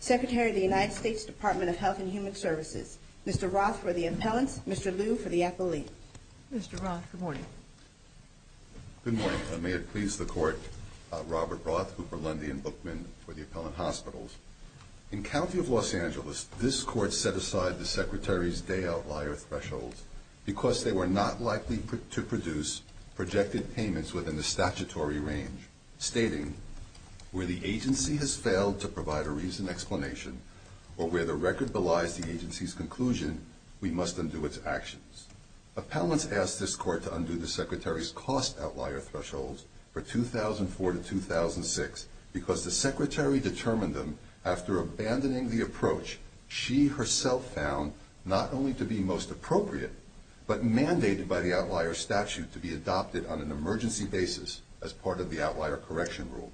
Secretary of the United States Department of Health and Human Services Mr. Roth for the appellants, Mr. Liu for the appellate. Mr. Roth, good morning. Good morning. May it please the Court. Robert Roth, Cooper Lundy, and Bookman for the appellant hospitals. and that the appellant is not eligible to receive an appellate. The appellants set aside the Secretary's day outlier thresholds because they were not likely to produce projected payments within the statutory range, stating, where the agency has failed to provide a reasoned explanation or where the record belies the agency's conclusion, we must undo its actions. Appellants asked this Court to undo the Secretary's cost outlier thresholds for 2004 to 2006 because the Secretary determined them after abandoning the approach she herself found not only to be most appropriate, but mandated by the outlier statute to be adopted on an emergency basis as part of the outlier correction rule.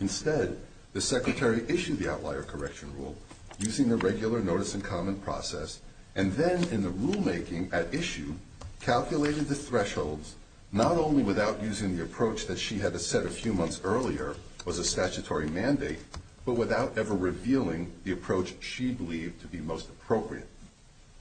Instead, the Secretary issued the outlier correction rule using the regular notice and comment process and then, in the rulemaking at issue, calculated the thresholds not only without using the approach that she had set a few months earlier as a statutory mandate, but without ever revealing the approach she believed to be most appropriate.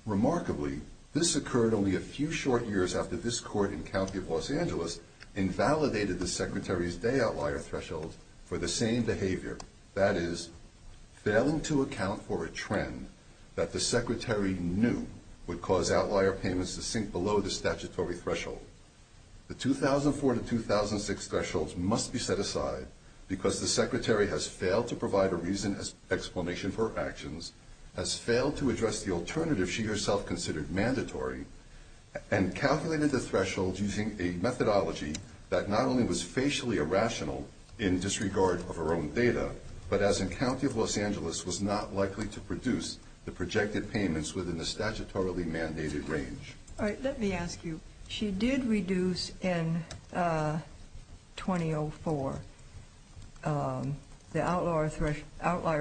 Remarkably, this occurred only a few short years after this Court in County of Los Angeles invalidated the Secretary's day outlier thresholds for the same behavior, that is, failing to account for a trend that the Secretary knew would cause outlier payments to sink below the statutory threshold. The 2004 to 2006 thresholds must be set aside because the Secretary has failed to provide a reason or explanation for her actions, has failed to address the alternative she herself considered mandatory, and calculated the thresholds using a methodology that not only was facially irrational in disregard of her own data, but as in County of Los Angeles, was not likely to produce the projected payments within the statutorily mandated range. All right, let me ask you. She did reduce in 2004 the outlier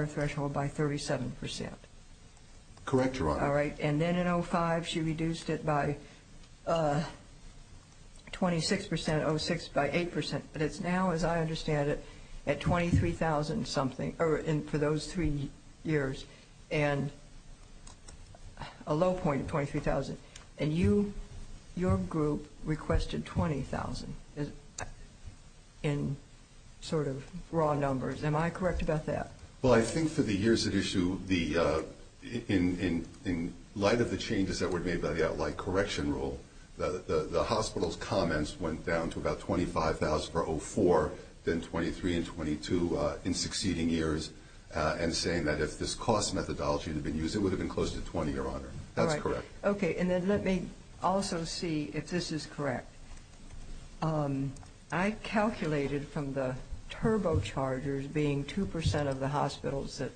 threshold by 37%. Correct, Your Honor. All right, and then in 2005 she reduced it by 26%, 06 by 8%, but it's now, as I understand it, at 23,000-something for those three years, and a low point of 23,000. And your group requested 20,000 in sort of raw numbers. Am I correct about that? Well, I think for the years at issue, in light of the changes that were made by the outlier correction rule, the hospital's comments went down to about 25,000 per 04, then 23,000 and 22,000 in succeeding years, and saying that if this cost methodology had been used, it would have been close to 20,000, Your Honor. That's correct. Okay, and then let me also see if this is correct. I calculated from the turbochargers being 2% of the hospitals that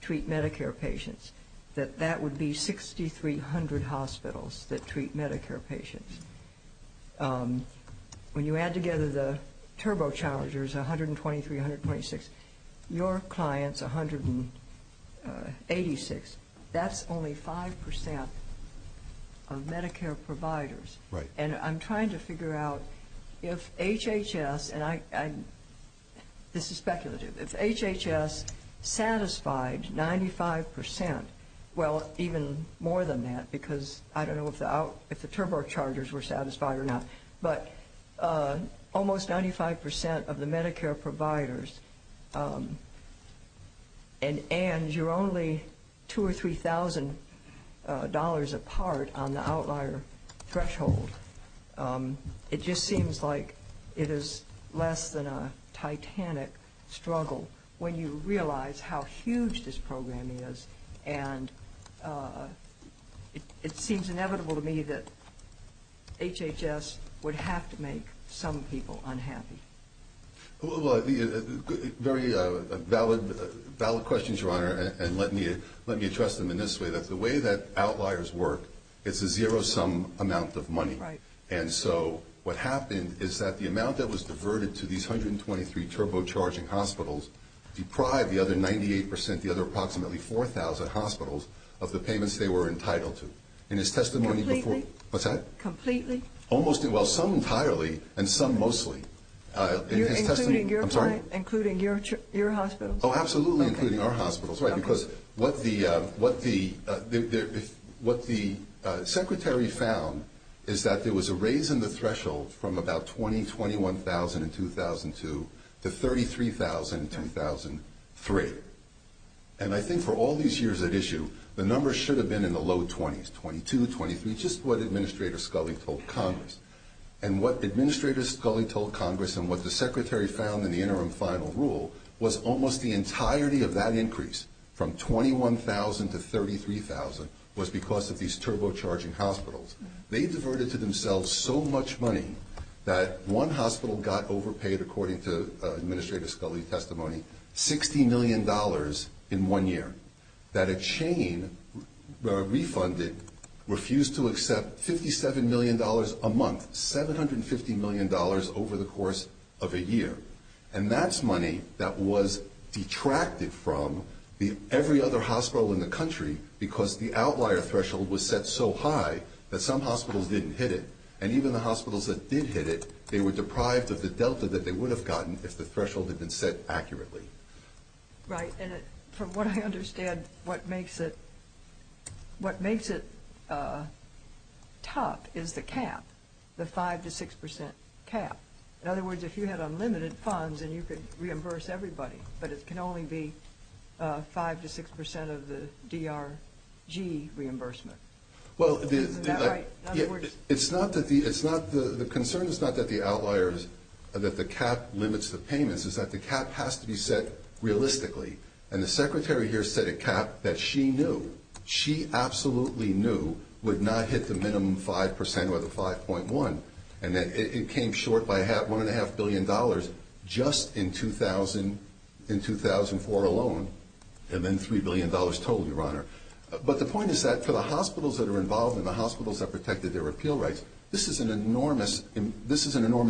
treat Medicare patients, that that would be 6,300 hospitals that treat Medicare patients. When you add together the turbochargers, 123, 126, your clients, 186, that's only 5% of Medicare providers. Right. And I'm trying to figure out if HHS, and this is speculative, if HHS satisfied 95%, well, even more than that, because I don't know if the turbochargers were satisfied or not, but almost 95% of the Medicare providers, and you're only $2,000 or $3,000 apart on the outlier threshold, it just seems like it is less than a titanic struggle when you realize how huge this program is. And it seems inevitable to me that HHS would have to make some people unhappy. Very valid questions, Your Honor, and let me address them in this way, that the way that outliers work, it's a zero-sum amount of money. Right. And so what happened is that the amount that was diverted to these 123 turbocharging hospitals deprived the other 98%, the other approximately 4,000 hospitals, of the payments they were entitled to. Completely? What's that? Completely? Well, some entirely and some mostly. Including your hospitals? Oh, absolutely, including our hospitals. Right, because what the Secretary found is that there was a raise in the threshold from about $20,000, $21,000 in 2002 to $33,000 in 2003. And I think for all these years at issue, the numbers should have been in the low 20s, $22,000, $23,000, just what Administrator Scully told Congress. And what Administrator Scully told Congress and what the Secretary found in the interim final rule was almost the entirety of that increase from $21,000 to $33,000 was because of these turbocharging hospitals. They diverted to themselves so much money that one hospital got overpaid, according to Administrator Scully's testimony, $60 million in one year, that a chain refunded refused to accept $57 million a month, $750 million over the course of a year. And that's money that was detracted from every other hospital in the country because the outlier threshold was set so high that some hospitals didn't hit it. And even the hospitals that did hit it, they were deprived of the delta that they would have gotten if the threshold had been set accurately. Right, and from what I understand, what makes it tough is the cap, the 5% to 6% cap. In other words, if you had unlimited funds, then you could reimburse everybody, but it can only be 5% to 6% of the DRG reimbursement. Isn't that right? The concern is not that the cap limits the payments, it's that the cap has to be set realistically. And the Secretary here set a cap that she knew, she absolutely knew would not hit the minimum 5% or the 5.1%, and it came short by $1.5 billion just in 2004 alone, and then $3 billion total, Your Honor. But the point is that for the hospitals that are involved and the hospitals that protected their appeal rights, this is an enormous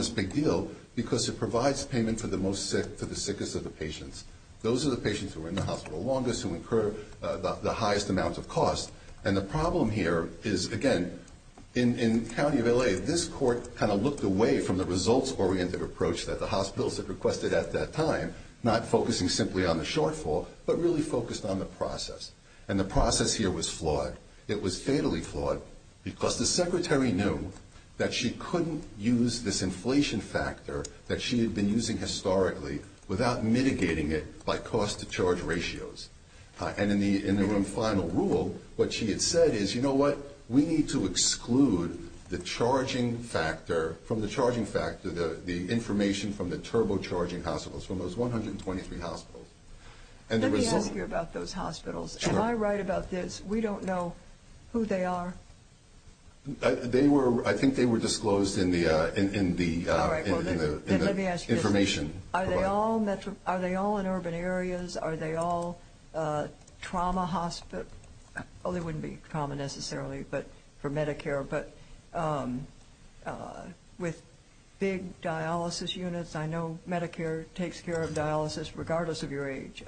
big deal because it provides payment for the most sick, for the sickest of the patients. Those are the patients who are in the hospital longest who incur the highest amount of cost. And the problem here is, again, in the county of L.A., this court kind of looked away from the results-oriented approach that the hospitals had requested at that time, not focusing simply on the shortfall, but really focused on the process. And the process here was flawed. It was fatally flawed because the Secretary knew that she couldn't use this inflation factor that she had been using historically without mitigating it by cost-to-charge ratios. And in the final rule, what she had said is, you know what, we need to exclude the charging factor, from the charging factor, the information from the turbocharging hospitals, from those 123 hospitals. Let me ask you about those hospitals. Am I right about this? We don't know who they are? I think they were disclosed in the information. Are they all in urban areas? Are they all trauma hospitals? Well, they wouldn't be trauma necessarily for Medicare, but with big dialysis units, I know Medicare takes care of dialysis, regardless of your age.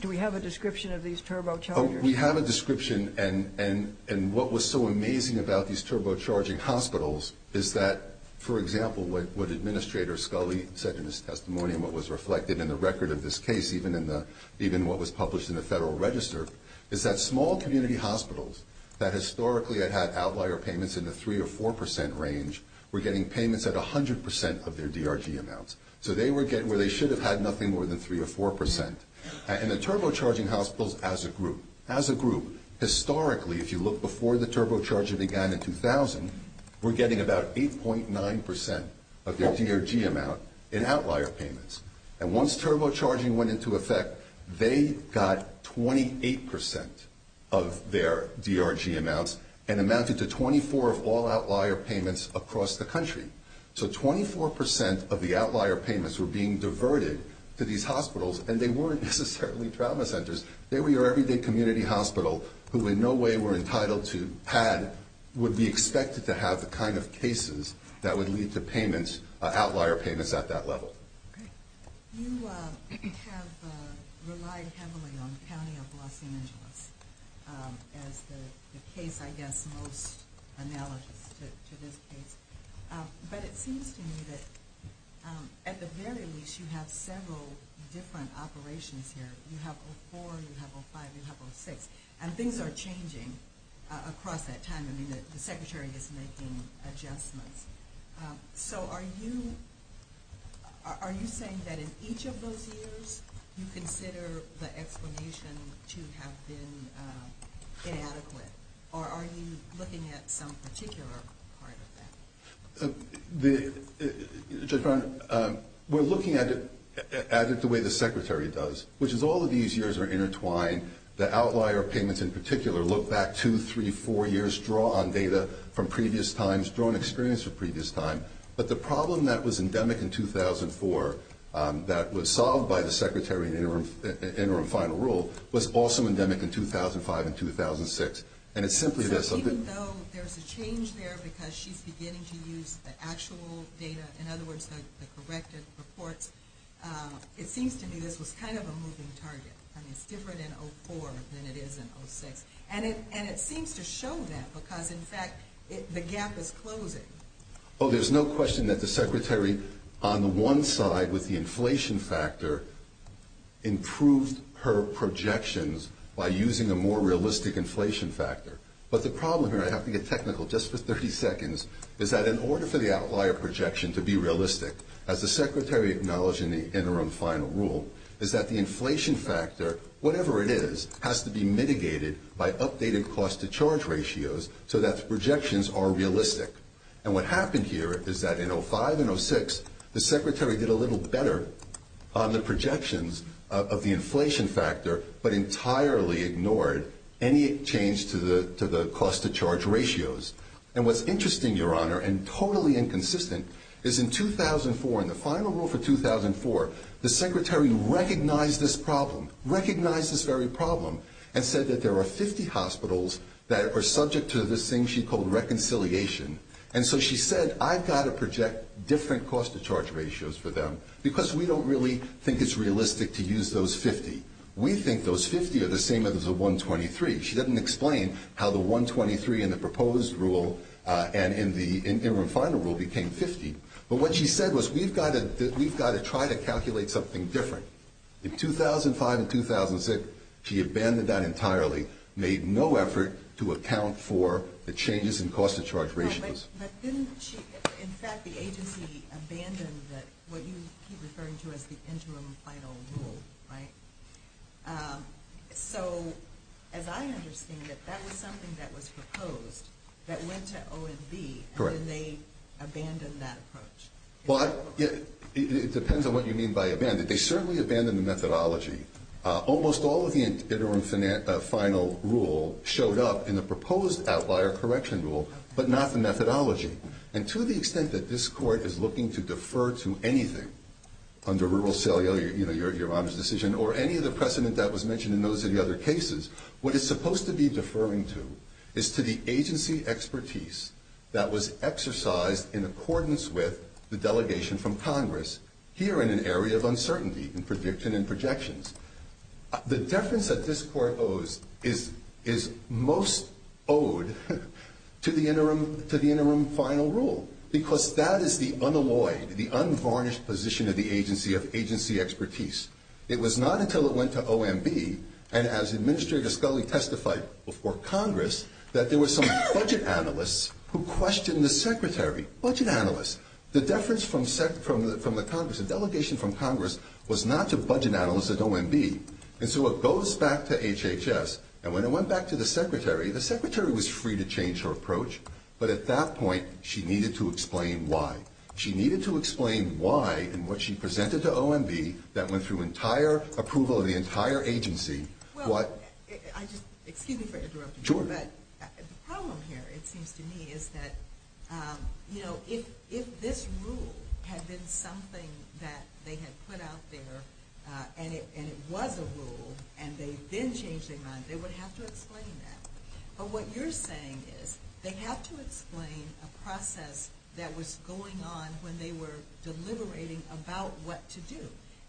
Do we have a description of these turbochargers? We have a description, and what was so amazing about these turbocharging hospitals is that, for example, what Administrator Scully said in his testimony and what was reflected in the record of this case, even what was published in the Federal Register, is that small community hospitals that historically had had outlier payments in the 3% or 4% range were getting payments at 100% of their DRG amounts. So they were getting where they should have had nothing more than 3% or 4%. And the turbocharging hospitals as a group, as a group, historically, if you look before the turbocharger began in 2000, were getting about 8.9% of their DRG amount in outlier payments. And once turbocharging went into effect, they got 28% of their DRG amounts and amounted to 24 of all outlier payments across the country. So 24% of the outlier payments were being diverted to these hospitals, and they weren't necessarily trauma centers. They were your everyday community hospital who in no way were entitled to, had, would be expected to have the kind of cases that would lead to payments, outlier payments at that level. You have relied heavily on the County of Los Angeles as the case, I guess, most analogous to this case. But it seems to me that at the very least, you have several different operations here. You have 04, you have 05, you have 06. And things are changing across that time. I mean, the Secretary is making adjustments. So are you saying that in each of those years you consider the explanation to have been inadequate? Or are you looking at some particular part of that? The, Judge Brown, we're looking at it the way the Secretary does, which is all of these years are intertwined. The outlier payments in particular look back two, three, four years, draw on data from previous times, draw on experience from previous time. But the problem that was endemic in 2004 that was solved by the Secretary in interim final rule was also endemic in 2005 and 2006. And it's simply this. So even though there's a change there because she's beginning to use the actual data, in other words, the corrected reports, it seems to me this was kind of a moving target. I mean, it's different in 04 than it is in 06. And it seems to show that because, in fact, the gap is closing. Oh, there's no question that the Secretary on the one side with the inflation factor improved her projections by using a more realistic inflation factor. But the problem here, I have to get technical just for 30 seconds, is that in order for the outlier projection to be realistic, as the Secretary acknowledged in the interim final rule, is that the inflation factor, whatever it is, has to be mitigated by updated cost-to-charge ratios so that the projections are realistic. And what happened here is that in 05 and 06, the Secretary did a little better on the projections of the inflation factor but entirely ignored any change to the cost-to-charge ratios. And what's interesting, Your Honor, and totally inconsistent, is in 2004, in the final rule for 2004, the Secretary recognized this problem, recognized this very problem, and said that there are 50 hospitals that are subject to this thing she called reconciliation. And so she said, I've got to project different cost-to-charge ratios for them because we don't really think it's realistic to use those 50. We think those 50 are the same as the 123. She doesn't explain how the 123 in the proposed rule and in the interim final rule became 50. But what she said was, we've got to try to calculate something different. In 2005 and 2006, she abandoned that entirely, made no effort to account for the changes in cost-to-charge ratios. But didn't she? In fact, the agency abandoned what you keep referring to as the interim final rule, right? So as I understand it, that was something that was proposed that went to O&B, and then they abandoned that approach. Well, it depends on what you mean by abandoned. They certainly abandoned the methodology. Almost all of the interim final rule showed up in the proposed outlier correction rule, but not the methodology. And to the extent that this court is looking to defer to anything under rural sale, your Honor's decision, or any of the precedent that was mentioned in those other cases, what it's supposed to be deferring to is to the agency expertise that was exercised in accordance with the delegation from Congress here in an area of uncertainty in prediction and projections. The deference that this court owes is most owed to the interim final rule, because that is the unalloyed, the unvarnished position of the agency of agency expertise. It was not until it went to O&B, and as Administrator Scully testified before Congress, that there were some budget analysts who questioned the secretary. Budget analysts. The deference from the Congress, the delegation from Congress, was not to budget analysts at O&B. And so it goes back to HHS, and when it went back to the secretary, the secretary was free to change her approach, but at that point she needed to explain why. She needed to explain why in what she presented to O&B that went through entire approval of the entire agency, what... Well, excuse me for interrupting you, but the problem here, it seems to me, is that, you know, if this rule had been something that they had put out there, and it was a rule, and they then changed their mind, they would have to explain that. But what you're saying is they have to explain a process that was going on when they were deliberating about what to do.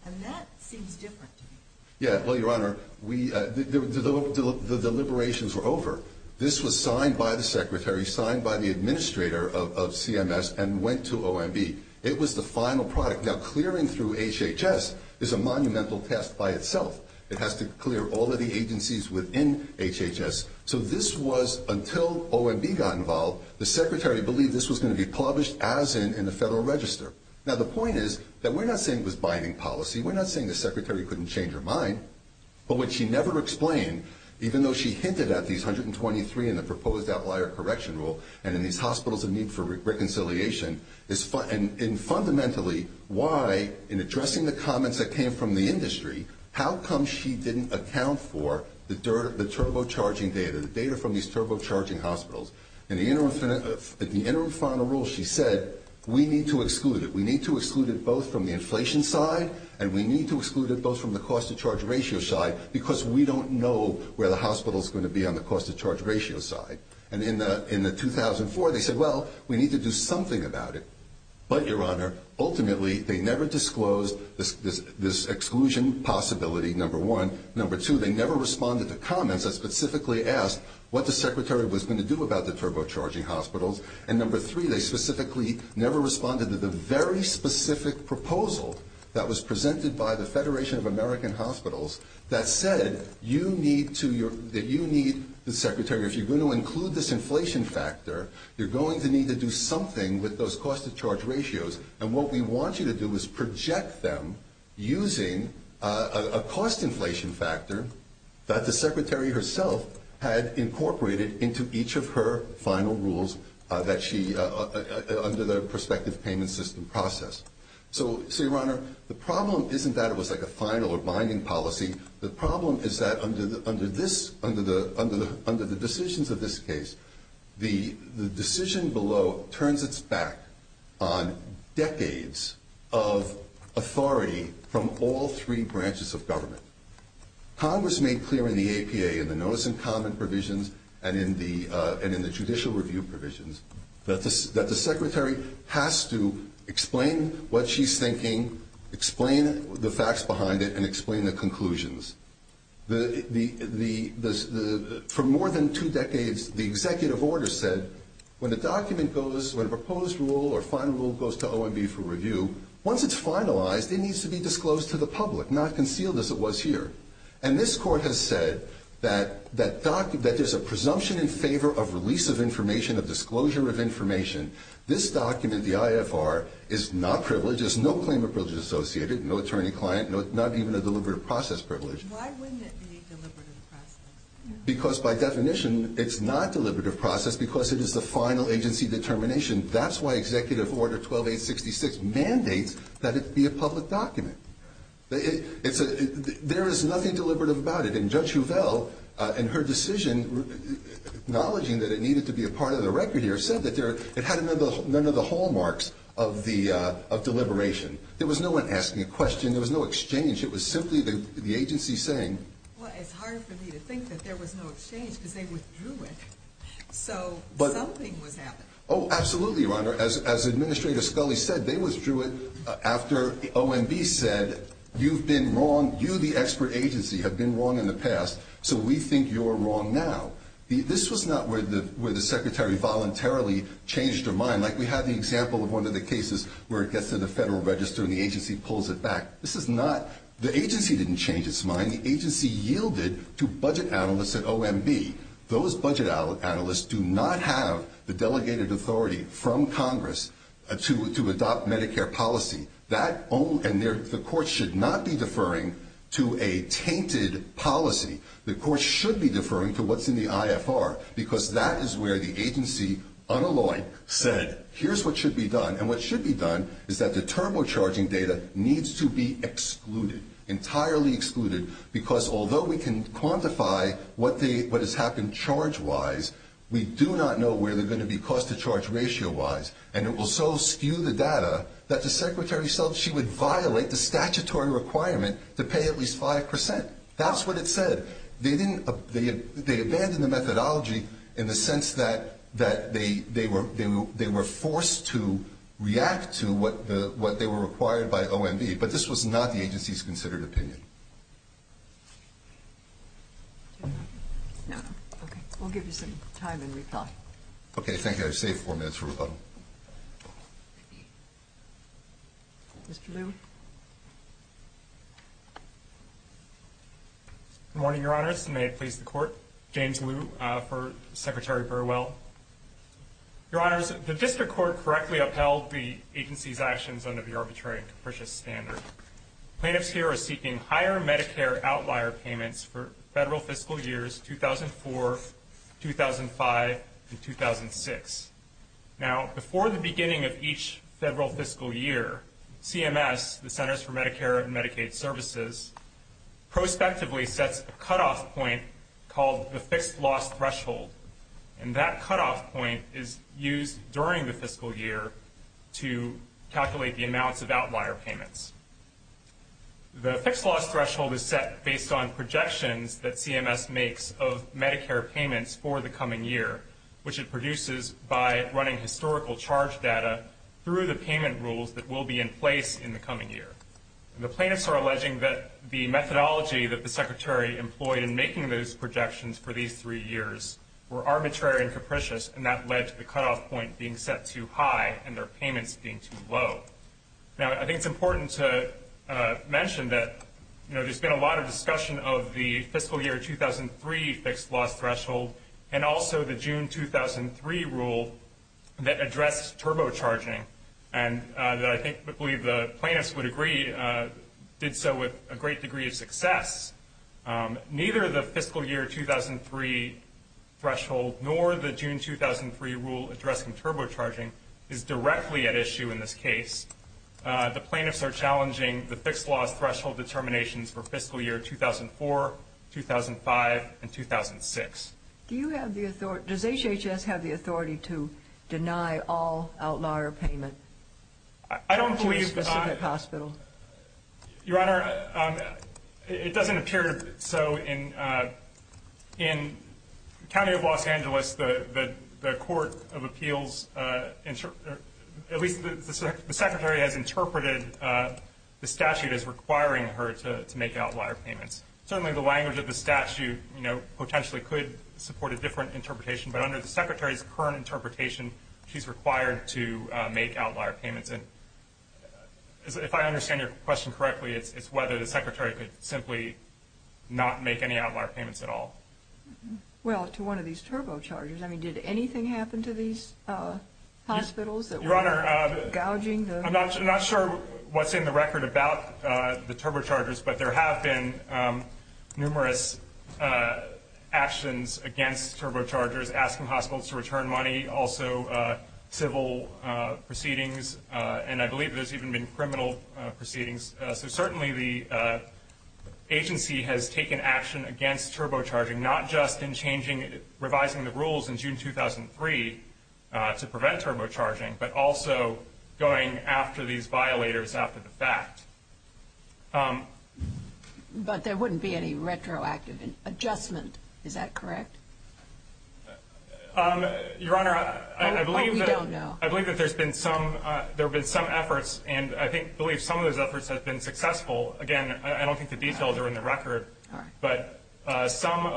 And that seems different to me. Yeah, well, Your Honor, the deliberations were over. This was signed by the secretary, signed by the administrator of CMS, and went to O&B. It was the final product. Now, clearing through HHS is a monumental task by itself. It has to clear all of the agencies within HHS. So this was, until O&B got involved, the secretary believed this was going to be published as in in the Federal Register. Now, the point is that we're not saying it was binding policy. We're not saying the secretary couldn't change her mind. But what she never explained, even though she hinted at these 123 in the proposed outlier correction rule and in these hospitals in need for reconciliation, is fundamentally why, in addressing the comments that came from the industry, how come she didn't account for the turbocharging data, the data from these turbocharging hospitals? In the interim final rule, she said, we need to exclude it. We need to exclude it both from the inflation side, and we need to exclude it both from the cost-to-charge ratio side, because we don't know where the hospital is going to be on the cost-to-charge ratio side. And in the 2004, they said, well, we need to do something about it. But, Your Honor, ultimately, they never disclosed this exclusion possibility, number one. Number two, they never responded to comments that specifically asked what the secretary was going to do about the turbocharging hospitals. And number three, they specifically never responded to the very specific proposal that was presented by the Federation of American Hospitals that said that you need, the secretary, if you're going to include this inflation factor, you're going to need to do something with those cost-to-charge ratios. And what we want you to do is project them using a cost-inflation factor that the secretary herself had incorporated into each of her final rules under the prospective payment system process. So, Your Honor, the problem isn't that it was like a final or binding policy. The problem is that under the decisions of this case, the decision below turns its back on decades of authority from all three branches of government. Congress made clear in the APA and the notice and comment provisions and in the judicial review provisions that the secretary has to explain what she's thinking, explain the facts behind it, and explain the conclusions. For more than two decades, the executive order said when a document goes, when a proposed rule or final rule goes to OMB for review, once it's finalized, it needs to be disclosed to the public, not concealed as it was here. And this Court has said that there's a presumption in favor of release of information, of disclosure of information. This document, the IFR, is not privileged. There's no claim of privilege associated, no attorney-client, not even a deliberative process privilege. Why wouldn't it be a deliberative process? Because by definition, it's not a deliberative process because it is the final agency determination. That's why Executive Order 12866 mandates that it be a public document. There is nothing deliberative about it. And Judge Huvel, in her decision, acknowledging that it needed to be a part of the record here, said that it had none of the hallmarks of deliberation. There was no one asking a question. There was no exchange. It was simply the agency saying... Well, it's hard for me to think that there was no exchange because they withdrew it, so something was happening. Oh, absolutely, Your Honor. As Administrator Scully said, they withdrew it after OMB said, you've been wrong, you, the expert agency, have been wrong in the past, so we think you're wrong now. This was not where the secretary voluntarily changed her mind. Like we have the example of one of the cases where it gets to the Federal Register and the agency pulls it back. This is not... The agency didn't change its mind. And the agency yielded to budget analysts at OMB. Those budget analysts do not have the delegated authority from Congress to adopt Medicare policy. And the court should not be deferring to a tainted policy. The court should be deferring to what's in the IFR because that is where the agency, unalloyed, said, here's what should be done. And what should be done is that the turbocharging data needs to be excluded, entirely excluded, because although we can quantify what has happened charge-wise, we do not know where they're going to be cost-to-charge ratio-wise. And it will so skew the data that the secretary would violate the statutory requirement to pay at least 5%. That's what it said. They abandoned the methodology in the sense that they were forced to react to what they were required by OMB. But this was not the agency's considered opinion. No. Okay. We'll give you some time and reply. Okay. Thank you. I've saved 4 minutes for rebuttal. Mr. Liu. Good morning, Your Honors. May it please the Court. James Liu for Secretary Burwell. Your Honors, the District Court correctly upheld the agency's actions under the Arbitrary and Capricious Standard. Plaintiffs here are seeking higher Medicare outlier payments for federal fiscal years 2004, 2005, and 2006. Now, before the beginning of each federal fiscal year, CMS, the Centers for Medicare and Medicaid Services, prospectively sets a cutoff point called the Fixed Loss Threshold. And that cutoff point is used during the fiscal year to calculate the amounts of outlier payments. The Fixed Loss Threshold is set based on projections that CMS makes of Medicare payments for the coming year, which it produces by running historical charge data through the payment rules that will be in place in the coming year. The plaintiffs are alleging that the methodology that the Secretary employed in making those projections for these three years were arbitrary and capricious, and that led to the cutoff point being set too high and their payments being too low. Now, I think it's important to mention that, you know, there's been a lot of discussion of the fiscal year 2003 Fixed Loss Threshold and also the June 2003 rule that addressed turbocharging, and I believe the plaintiffs would agree did so with a great degree of success. Neither the fiscal year 2003 threshold nor the June 2003 rule addressing turbocharging is directly at issue in this case. The plaintiffs are challenging the Fixed Loss Threshold determinations for fiscal year 2004, 2005, and 2006. Do you have the authority... Does HHS have the authority to deny all outlier payment to a specific hospital? Your Honor, it doesn't appear so. In County of Los Angeles, the Court of Appeals... At least the Secretary has interpreted the statute as requiring her to make outlier payments. Certainly, the language of the statute, you know, potentially could support a different interpretation, but under the Secretary's current interpretation, she's required to make outlier payments. If I understand your question correctly, it's whether the Secretary could simply not make any outlier payments at all. Well, to one of these turbochargers, I mean, did anything happen to these hospitals that were gouging the... Your Honor, I'm not sure what's in the record about the turbochargers, but there have been numerous actions against turbochargers, asking hospitals to return money, also civil proceedings, and I believe there's even been criminal proceedings. So certainly the agency has taken action against turbocharging, not just in changing... revising the rules in June 2003 to prevent turbocharging, but also going after these violators after the fact. But there wouldn't be any retroactive adjustment. Is that correct? Your Honor, I believe that... Oh, we don't know. I believe that there's been some efforts, and I believe some of those efforts have been successful. Again, I don't think the details are in the record, but some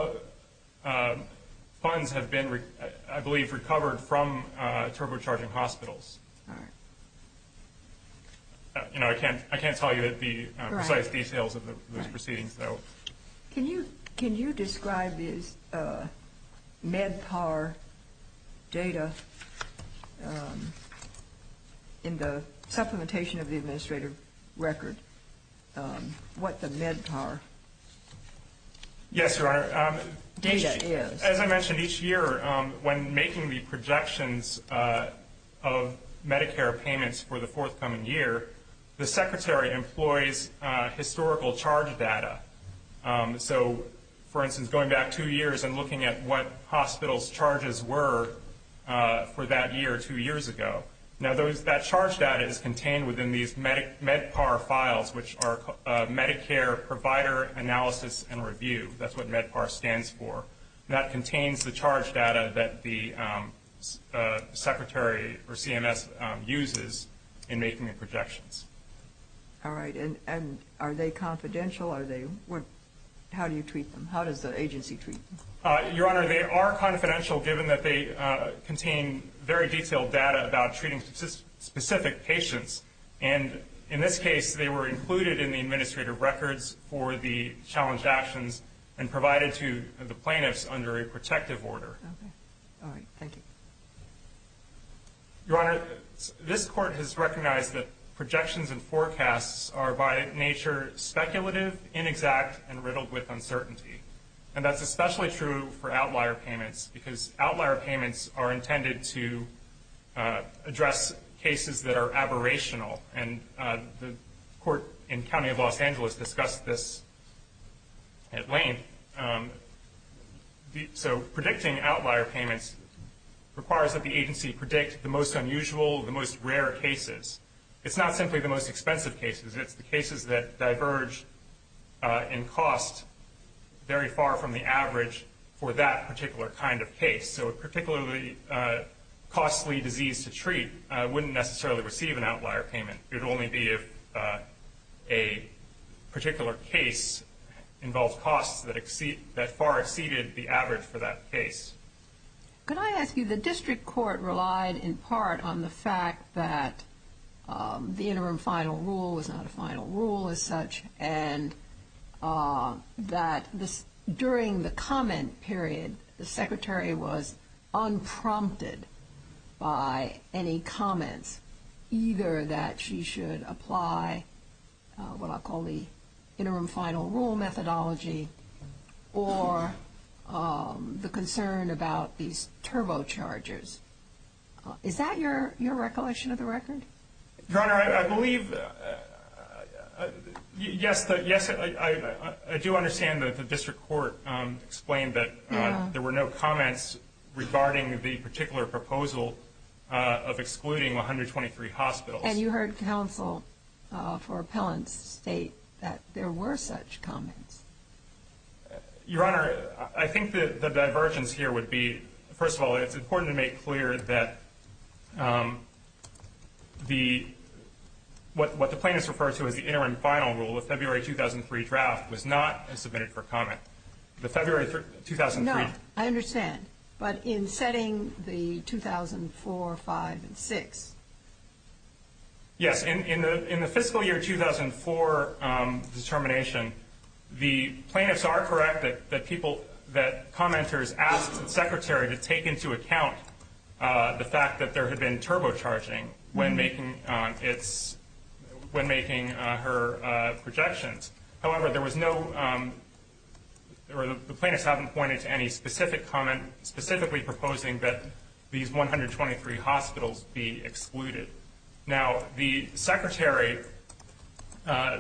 funds have been, I believe, recovered from turbocharging hospitals. All right. You know, I can't tell you the precise details of those proceedings, though. Can you describe this MedPAR data in the supplementation of the administrative record, what the MedPAR data is? Yes, Your Honor. As I mentioned, each year, when making the projections of Medicare payments for the forthcoming year, the Secretary employs historical charge data. So, for instance, going back two years and looking at what hospitals' charges were for that year two years ago. Now, that charge data is contained within these MedPAR files, which are Medicare Provider Analysis and Review. That's what MedPAR stands for. That contains the charge data that the Secretary, or CMS, uses in making the projections. All right. And are they confidential? How do you treat them? How does the agency treat them? Your Honor, they are confidential, given that they contain very detailed data about treating specific patients. And in this case, they were included in the administrative records for the challenged actions and provided to the plaintiffs under a protective order. All right. Thank you. Your Honor, this Court has recognized that projections and forecasts are by nature speculative, inexact, and riddled with uncertainty. And that's especially true for outlier payments because outlier payments are intended to address cases that are aberrational. And the Court in County of Los Angeles discussed this at length. So, predicting outlier payments requires that the agency predict the most unusual, the most rare cases. It's not simply the most expensive cases. It's the cases that diverge in cost very far from the average for that particular kind of case. So a particularly costly disease to treat wouldn't necessarily receive an outlier payment. It would only be if a particular case involved costs that far exceeded the average for that case. Could I ask you, the district court relied in part on the fact that the interim final rule was not a final rule as such and that during the comment period the secretary was unprompted by any comments either that she should apply what I'll call the interim final rule methodology or the concern about these turbochargers. Is that your recollection of the record? Your Honor, I believe yes, I do understand that the district court explained that there were no comments regarding the particular proposal of excluding 123 hospitals. And you heard counsel for appellants state that there were such comments. Your Honor, I think the divergence here would be, first of all, it's important to make clear that what the plaintiffs refer to as the interim final rule of February 2003 draft was not submitted for comment. The February 2003 draft No, I understand. But in setting the 2004, 2005, and 2006 Yes, in the fiscal year 2004 determination, the plaintiffs are correct that commenters asked the secretary to take into account the fact that there had been turbocharging when making her projections. However, there was no or the plaintiffs haven't pointed to any specific comment specifically proposing that these 123 hospitals be excluded. Now the secretary I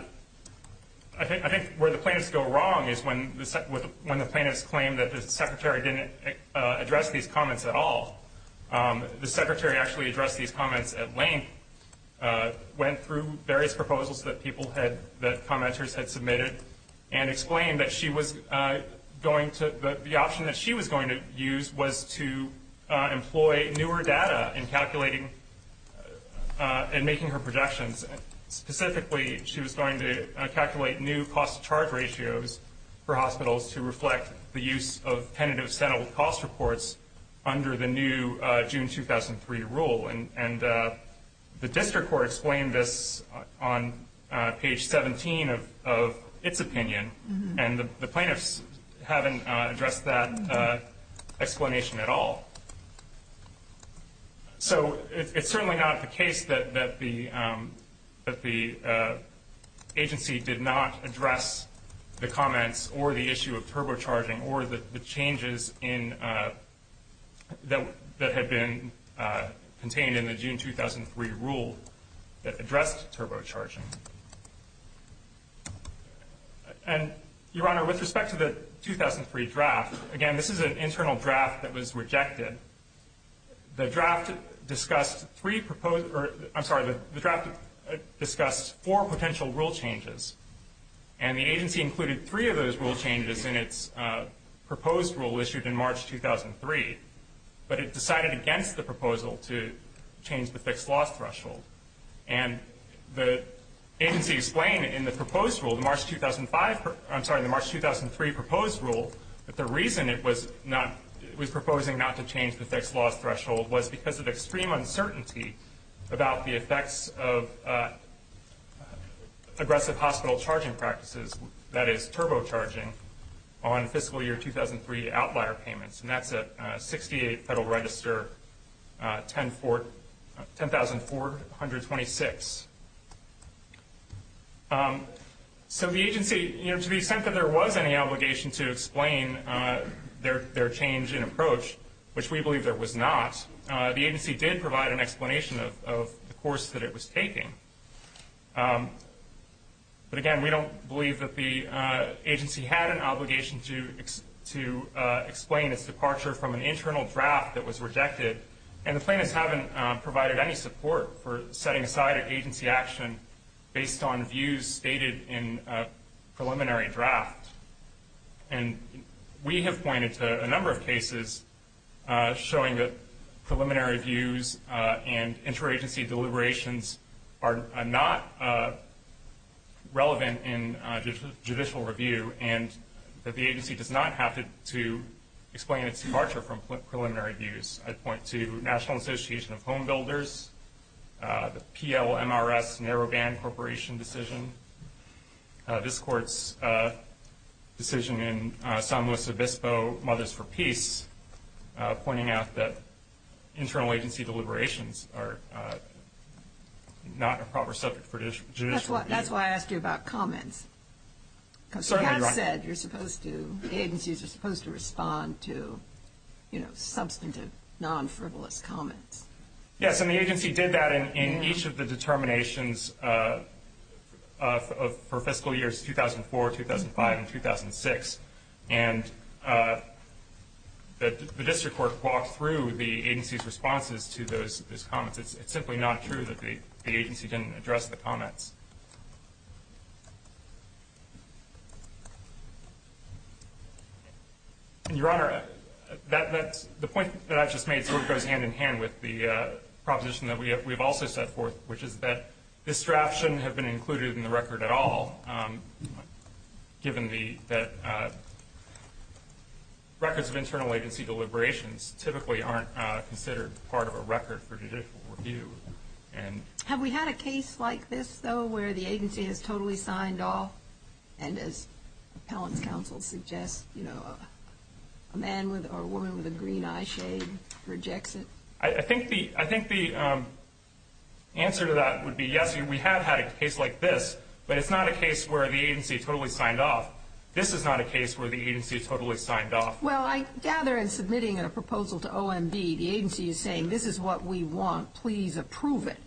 think where the plaintiffs go wrong is when the plaintiffs claim that the secretary didn't address these comments at all. The secretary actually addressed these comments at length went through various proposals that people had that commenters had submitted and explained that she was going to the option that she was going to use was to employ newer data in calculating and making her projections specifically she was going to calculate new cost to charge ratios for hospitals to reflect the use of tentative settled cost reports under the new June 2003 rule and the district court explained this on page 17 of its opinion and the plaintiffs haven't addressed that explanation at all so it's certainly not the case that the agency did not address the comments or the issue of turbocharging or the changes in that had been contained in the June 2003 rule that addressed turbocharging and your honor with respect to the 2003 draft again this is an internal draft that was rejected the draft discussed three proposed I'm sorry the draft discussed four potential rule changes and the agency included three of those rule changes in its proposed rule issued in March 2003 but it decided against the proposal to change the fixed loss threshold and the agency explained in the proposed rule the March 2005 I'm sorry the March 2003 proposed rule that the reason it was not it was proposing not to change the fixed loss threshold was because of extreme uncertainty about the effects of aggressive hospital charging practices that is turbocharging on fiscal year 2003 outlier payments and that's at 68 Federal Register 10,426 so the agency to the extent that there was any obligation to explain their change in approach which we believe there was not the agency did provide an explanation of the course that it was taking but again we don't believe that the agency had an obligation to explain its departure from an internal draft that was rejected and the plaintiffs haven't provided any support for on views stated in preliminary draft and we have pointed to a number of cases showing that preliminary views and interagency deliberations are not relevant in judicial review and that the agency does not have to explain its departure from preliminary views I point to National Association of Home Builders PLMRS Narrowband Corporation decision this court's decision in San Luis Obispo Mothers for Peace pointing out that internal agency deliberations are not a proper subject for judicial review that's why I asked you about comments because you have said the agencies are supposed to respond to substantive non-frivolous comments yes and the agency did that in each of the determinations for fiscal years 2004, 2005 and 2006 and the district court walked through the agency's responses to those comments it's simply not true that the agency didn't address the comments your honor the point that I just made sort of goes hand in hand with the proposition that we have also set forth which is that this draft shouldn't have been included in the record at all given that records of internal agency deliberations typically aren't considered part of a record for judicial review have we had a case like this though where the agency has totally signed off and as appellant counsel suggests a man or woman with a green eye shade rejects it I think the answer to that would be yes we have had a case like this but it's not a case where the agency totally signed off this is not a case where the agency totally signed off well I gather in submitting a proposal to OMB the agency is saying this is what we want please approve it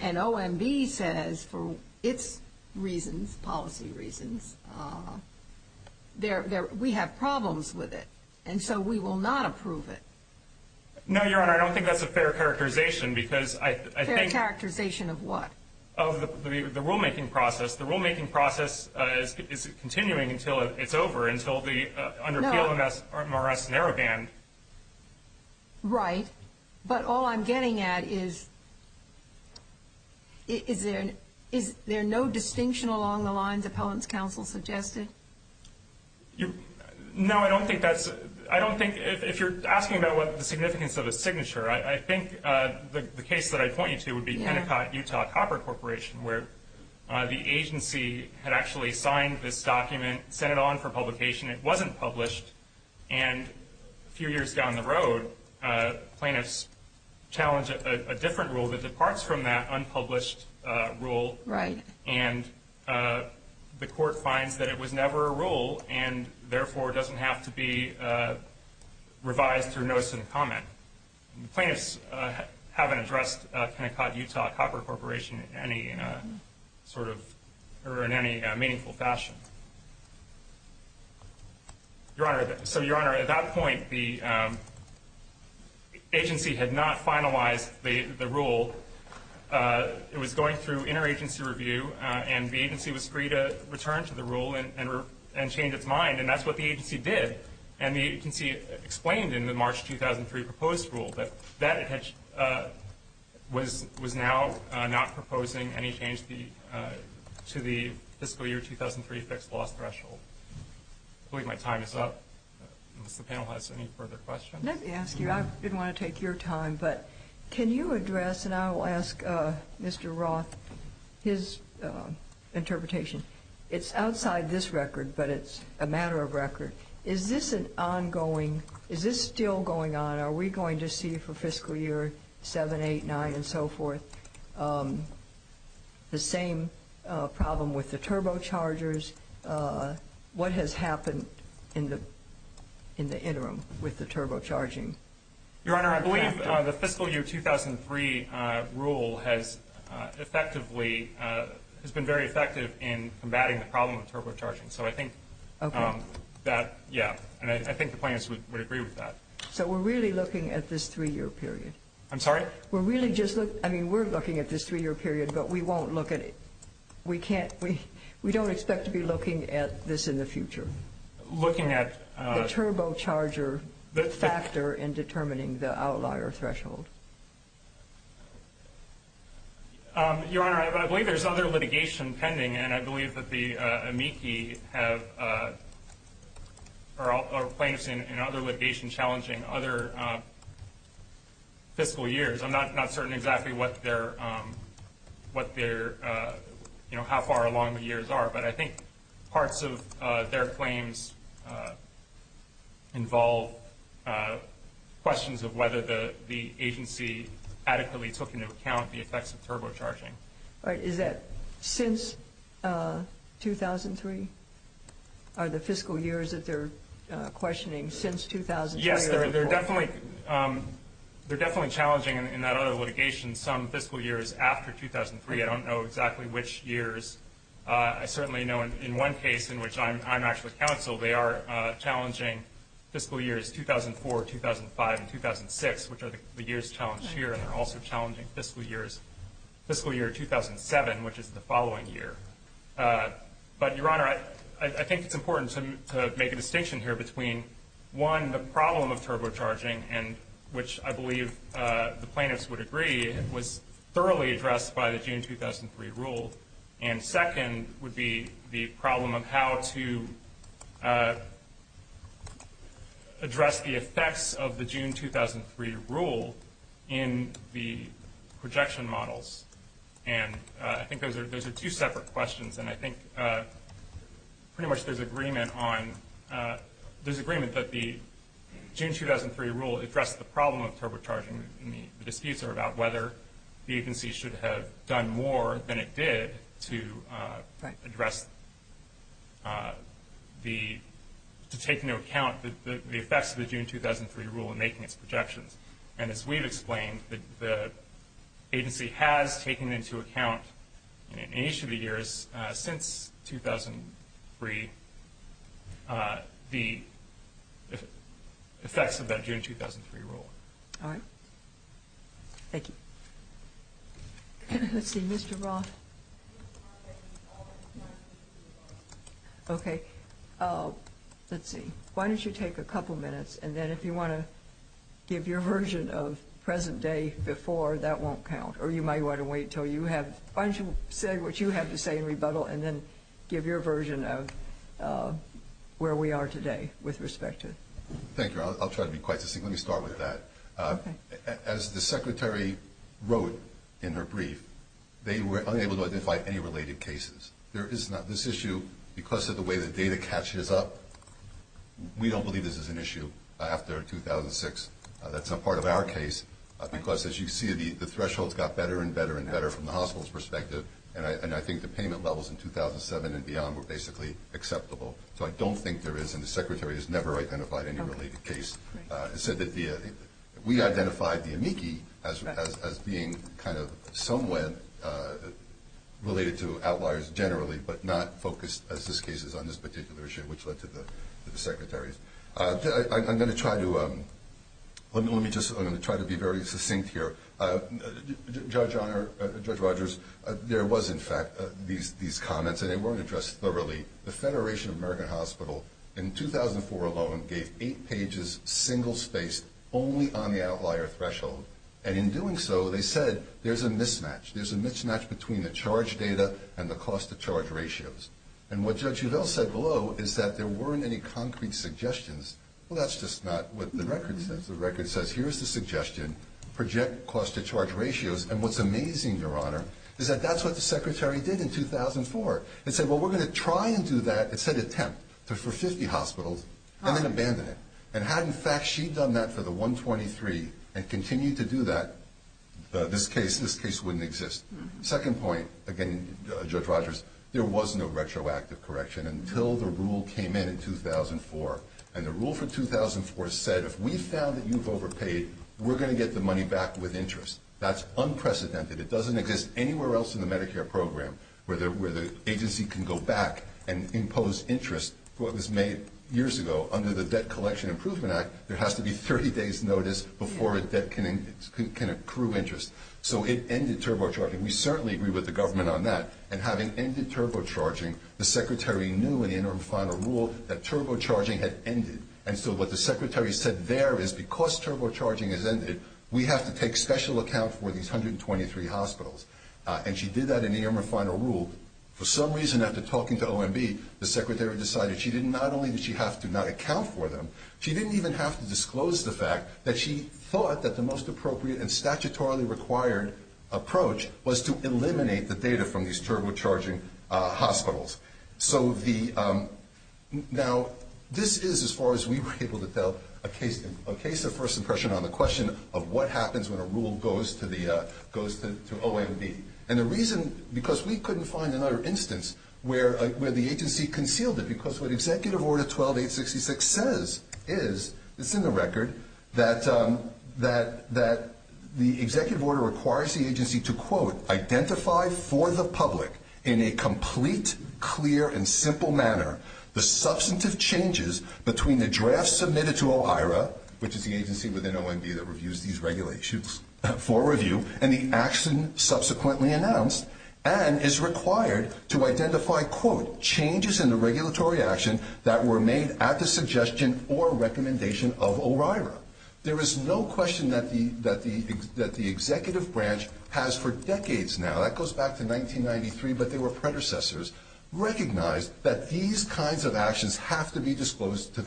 and OMB says for it's reasons policy reasons we have problems with it and so we will not approve it no your honor I don't think that's a fair characterization fair characterization of what? of the rule making process the rule making process is continuing until it's over under PLMRS narrow band right but all I'm getting at is is there no distinction along the lines appellant's counsel suggested no I don't think that's if you're asking about the significance of a signature I think the case that I point you to would be Pentecost Utah Copper Corporation where the agency had actually signed this document sent it on for publication it wasn't published and a few years down the road plaintiffs challenge a different rule that departs from that unpublished rule and the court finds that it was never a rule and therefore doesn't have to be revised through notice and comment plaintiffs haven't addressed Pentecost Utah Copper Corporation in any sort of or in any meaningful fashion your honor so your honor at that point the agency had not finalized the rule it was going through interagency review and the agency was free to return to the rule and change its mind and that's what the agency did and the agency explained in the March 2003 proposed rule that that was now not proposing any change to the fiscal year 2003 fixed loss threshold I believe my time is up unless the panel has any further questions let me ask you I didn't want to take your time but can you address and I will ask Mr. Roth his interpretation it's outside this record but it's a matter of record is this an ongoing is this still going on are we going to see for fiscal year 789 and so forth the same problem with the turbo chargers what has happened in the interim with the turbo charging your honor I believe the fiscal year 2003 rule has effectively has been very effective in combating the problem of turbo charging so I think we're really looking at this three year period we're looking at this three year period but we won't look at it we don't expect to be looking at this in the future looking at the turbo charger factor in determining the outlier threshold your honor I believe there is other litigation pending and I believe the amici have are plaintiffs in other litigation challenging other fiscal years I'm not certain exactly what their how far along the years are but I think parts of their claims involve questions of whether the agency adequately took into account the effects of turbo charging is that since 2003 are the fiscal years that they're questioning since 2003 they're definitely challenging in that other litigation some fiscal years after 2003 I don't know exactly which years I certainly know in one case in which I'm actually counsel they are challenging fiscal years 2004, 2005 and 2006 which are the years challenged here and they're also challenging fiscal years fiscal year 2007 which is the following year but your honor I think it's important to make a distinction here between one the problem of turbo charging which I believe the plaintiffs would agree was thoroughly addressed by the June 2003 rule and second would be the problem of how to address the effects of the June 2003 rule in the projection models and I think those are two separate questions and I think pretty much there's agreement on, there's agreement that the June 2003 rule addressed the problem of turbo charging the disputes are about whether the agency should have done more than it did to address to take into account the effects of the June 2003 rule in making its projections and as we've explained the agency has taken into account in each of the years since 2003 the effects of that June 2003 rule Thank you Mr. Roth Okay Let's see, why don't you take a couple minutes and then if you want to give your version of present day before that won't count or you might want to wait until you have, why don't you say what you have to say in rebuttal and then give your version of where we are today with respect to Thank you, I'll try to be quite succinct, let me start with that As the secretary wrote in her brief they were unable to identify any related cases There is not, this issue, because of the way the data catches up we don't believe this is an issue after 2006, that's not part of our case because as you see the thresholds got better and better and better from the hospital's perspective and I think the payment levels in 2007 and beyond were basically acceptable So I don't think there is, and the secretary has never identified any related case We identified the amici as being kind of somewhat related to outliers generally but not focused as this case is on this particular issue which led to the secretary's I'm going to try to be very succinct here Judge Rogers there was in fact these comments and they weren't addressed thoroughly The Federation of American Hospital in 2004 alone gave 8 pages single spaced only on the outlier threshold and in doing so they said there's a mismatch there's a mismatch between the charge data and the cost to charge ratios and what Judge Udall said below is that there weren't any concrete suggestions well that's just not what the record says the record says here's the suggestion, project cost to charge ratios and what's amazing your honor is that that's what the secretary did in 2004 it said well we're going to try and do that it said attempt for 50 hospitals and then abandon it and had in fact she done that for the 123 and continued to do that, this case wouldn't exist second point, again Judge Rogers there was no retroactive correction until the rule came in in 2004 and the rule for 2004 said if we found that you've overpaid we're going to get the money back with interest that's unprecedented, it doesn't exist anywhere else in the Medicare program where the agency can go back and impose interest what was made years ago under the debt collection improvement act there has to be 30 days notice before a debt can accrue interest so it ended turbo charging we certainly agree with the government on that and having ended turbo charging, the secretary knew in the interim final rule that turbo charging had ended and so what the secretary said there is because turbo charging has ended we have to take special account for these 123 hospitals and she did that in the interim final rule for some reason after talking to OMB the secretary decided not only did she have to not account for them she didn't even have to disclose the fact that she thought that the most appropriate and statutorily required approach was to eliminate the data from these turbo charging hospitals so the now this is as far as we were able to tell a case of first impression on the question of what happens when a rule goes to OMB and the reason because we couldn't find another instance where the agency concealed it because what executive order 12866 says is it's in the record that the executive order requires the agency to identify for the public in a complete clear and simple manner the substantive changes between the draft submitted to OIRA which is the agency within OMB that reviews these regulations for review and the action subsequently announced and is required to identify changes in the regulatory action that were made at the suggestion or recommendation of OIRA there is no question that the executive branch has for decades now that goes back to 1993 but they were predecessors recognized that these kinds of actions have to be disclosed to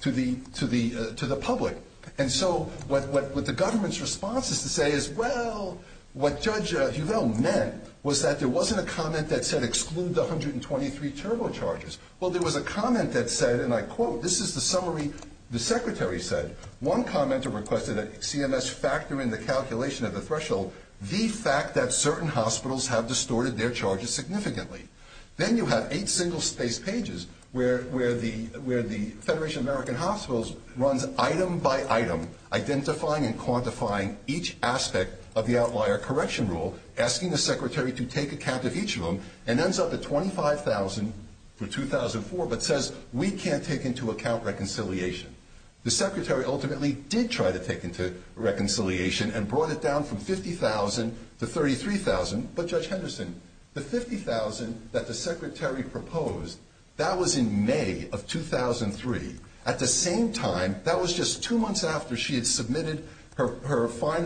the public and so what the government's response is to say is well what judge Huvel meant was that there wasn't a comment that said exclude the 123 turbo chargers well there was a comment that said and I quote this is the summary the secretary said one commenter requested that CMS factor in the calculation of the threshold the fact that certain hospitals have distorted their charges significantly then you have 8 single spaced pages where the federation of American hospitals runs item by item identifying and quantifying each aspect of the outlier correction rule asking the secretary to take account of each of them and ends up at 25,000 for 2004 but says we can't take into account reconciliation the secretary ultimately did try to take into reconciliation and brought it down from 50,000 to 33,000 but judge Henderson the 50,000 that the of 2003 at the same time that was just 2 months after she had submitted her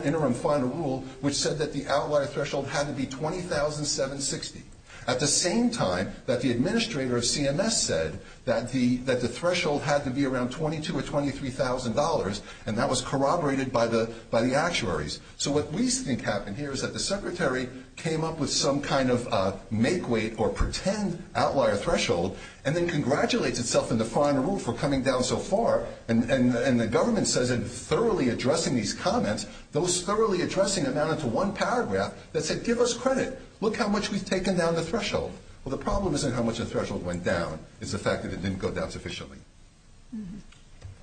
interim final rule which said that the outlier threshold had to be 20,760 at the same time that the administrator of CMS said that the threshold had to be around 22 or 23,000 dollars and that was corroborated by the actuaries so what we think happened here is that the secretary came up with some kind of make weight or pretend outlier threshold and then congratulates itself in the final rule for coming down so far and the government says in thoroughly addressing these comments those thoroughly addressing amounted to one paragraph that said give us credit look how much we've taken down the threshold well the problem isn't how much the threshold went down it's the fact that it didn't go down sufficiently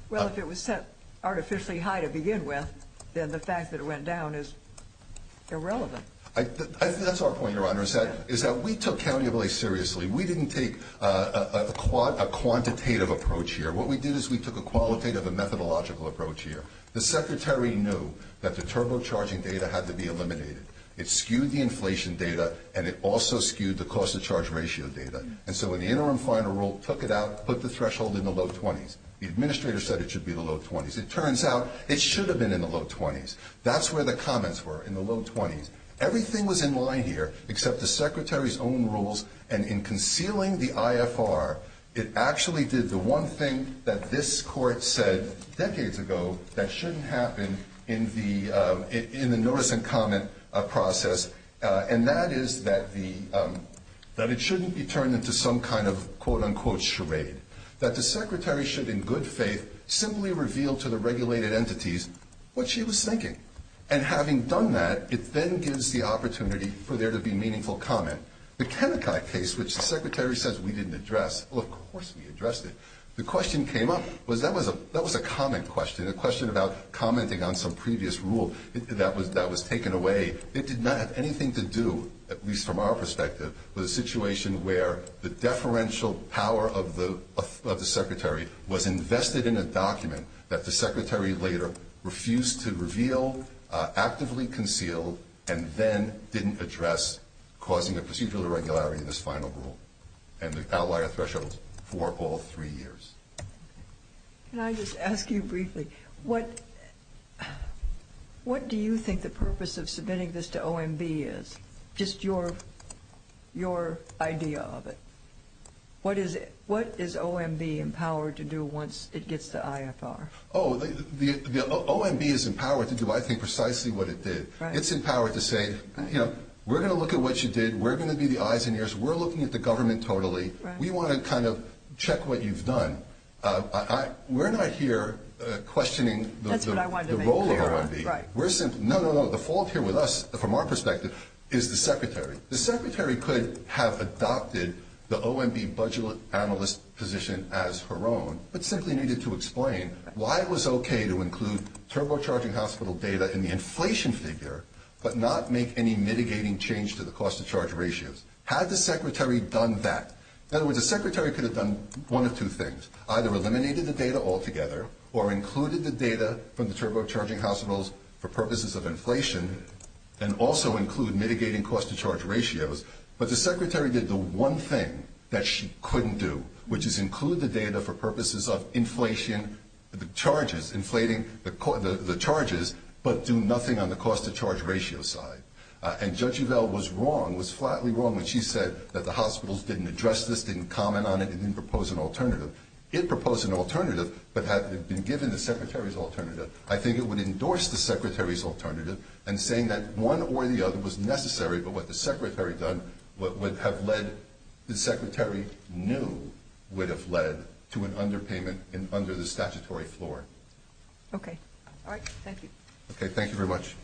well if it was set artificially high to begin with then the fact that it went down is irrelevant that's our point your honor is that we took county seriously we didn't take a quantitative approach here what we did is we took a qualitative and methodological approach here the secretary knew that the turbo charging data had to be eliminated it skewed the inflation data and it also skewed the cost of charge ratio data and so in the interim final rule took it out put the threshold in the low 20s the administrator said it should be the low 20s it turns out it should have been in the low 20s that's where the comments were in the low 20s everything was in line here except the secretary's own rules and in concealing the IFR it actually did the one thing that this court said decades ago that shouldn't happen in the in the notice and comment process and that is that the that it shouldn't be turned into some kind of quote unquote charade that the secretary should in good faith simply reveal to the regulated entities what she was thinking and having done that it then gives the opportunity for there to be meaningful comment the Kennecott case which the secretary says we didn't address well of course we addressed it the question came up was that was a comment question a question about commenting on some previous rule that was taken away it did not have anything to do at least from our perspective with a situation where the deferential power of the secretary was invested in a document that the secretary later refused to reveal actively concealed and then didn't address causing a procedural irregularity in this final rule and the outlier thresholds for all three years can I just ask you briefly what what do you think the purpose of submitting this to OMB is just your your idea of it what is it what is OMB empowered to do once it gets the IFR OMB is empowered to do I think precisely what it did it's in power to say you know we're going to look at what you did we're going to be the eyes and ears we're looking at the government totally we want to kind of check what you've done we're not here questioning the role of OMB the fault here with us from our perspective is the secretary the secretary could have adopted the OMB budget analyst position as her own but simply needed to explain why it was okay to include turbocharging hospital data in the inflation figure but not make any mitigating change to the cost to charge ratios had the secretary done that in other words the secretary could have done one of two things either eliminated the data altogether or included the data from the turbocharging hospitals for purposes of inflation and also include mitigating cost to charge ratios but the secretary did the one thing that she couldn't do which is include the data for purposes of inflation the charges inflating the charges but do nothing on the cost to charge ratio side and Judge Uvell was wrong was flatly wrong when she said that the hospitals didn't address this didn't comment on it and didn't propose an alternative it proposed an alternative but had it been given the secretary's alternative I think it would endorse the secretary's alternative and saying that one or the other was necessary but what the secretary done what would have led the secretary knew would have led to an underpayment under the statutory floor okay thank you very much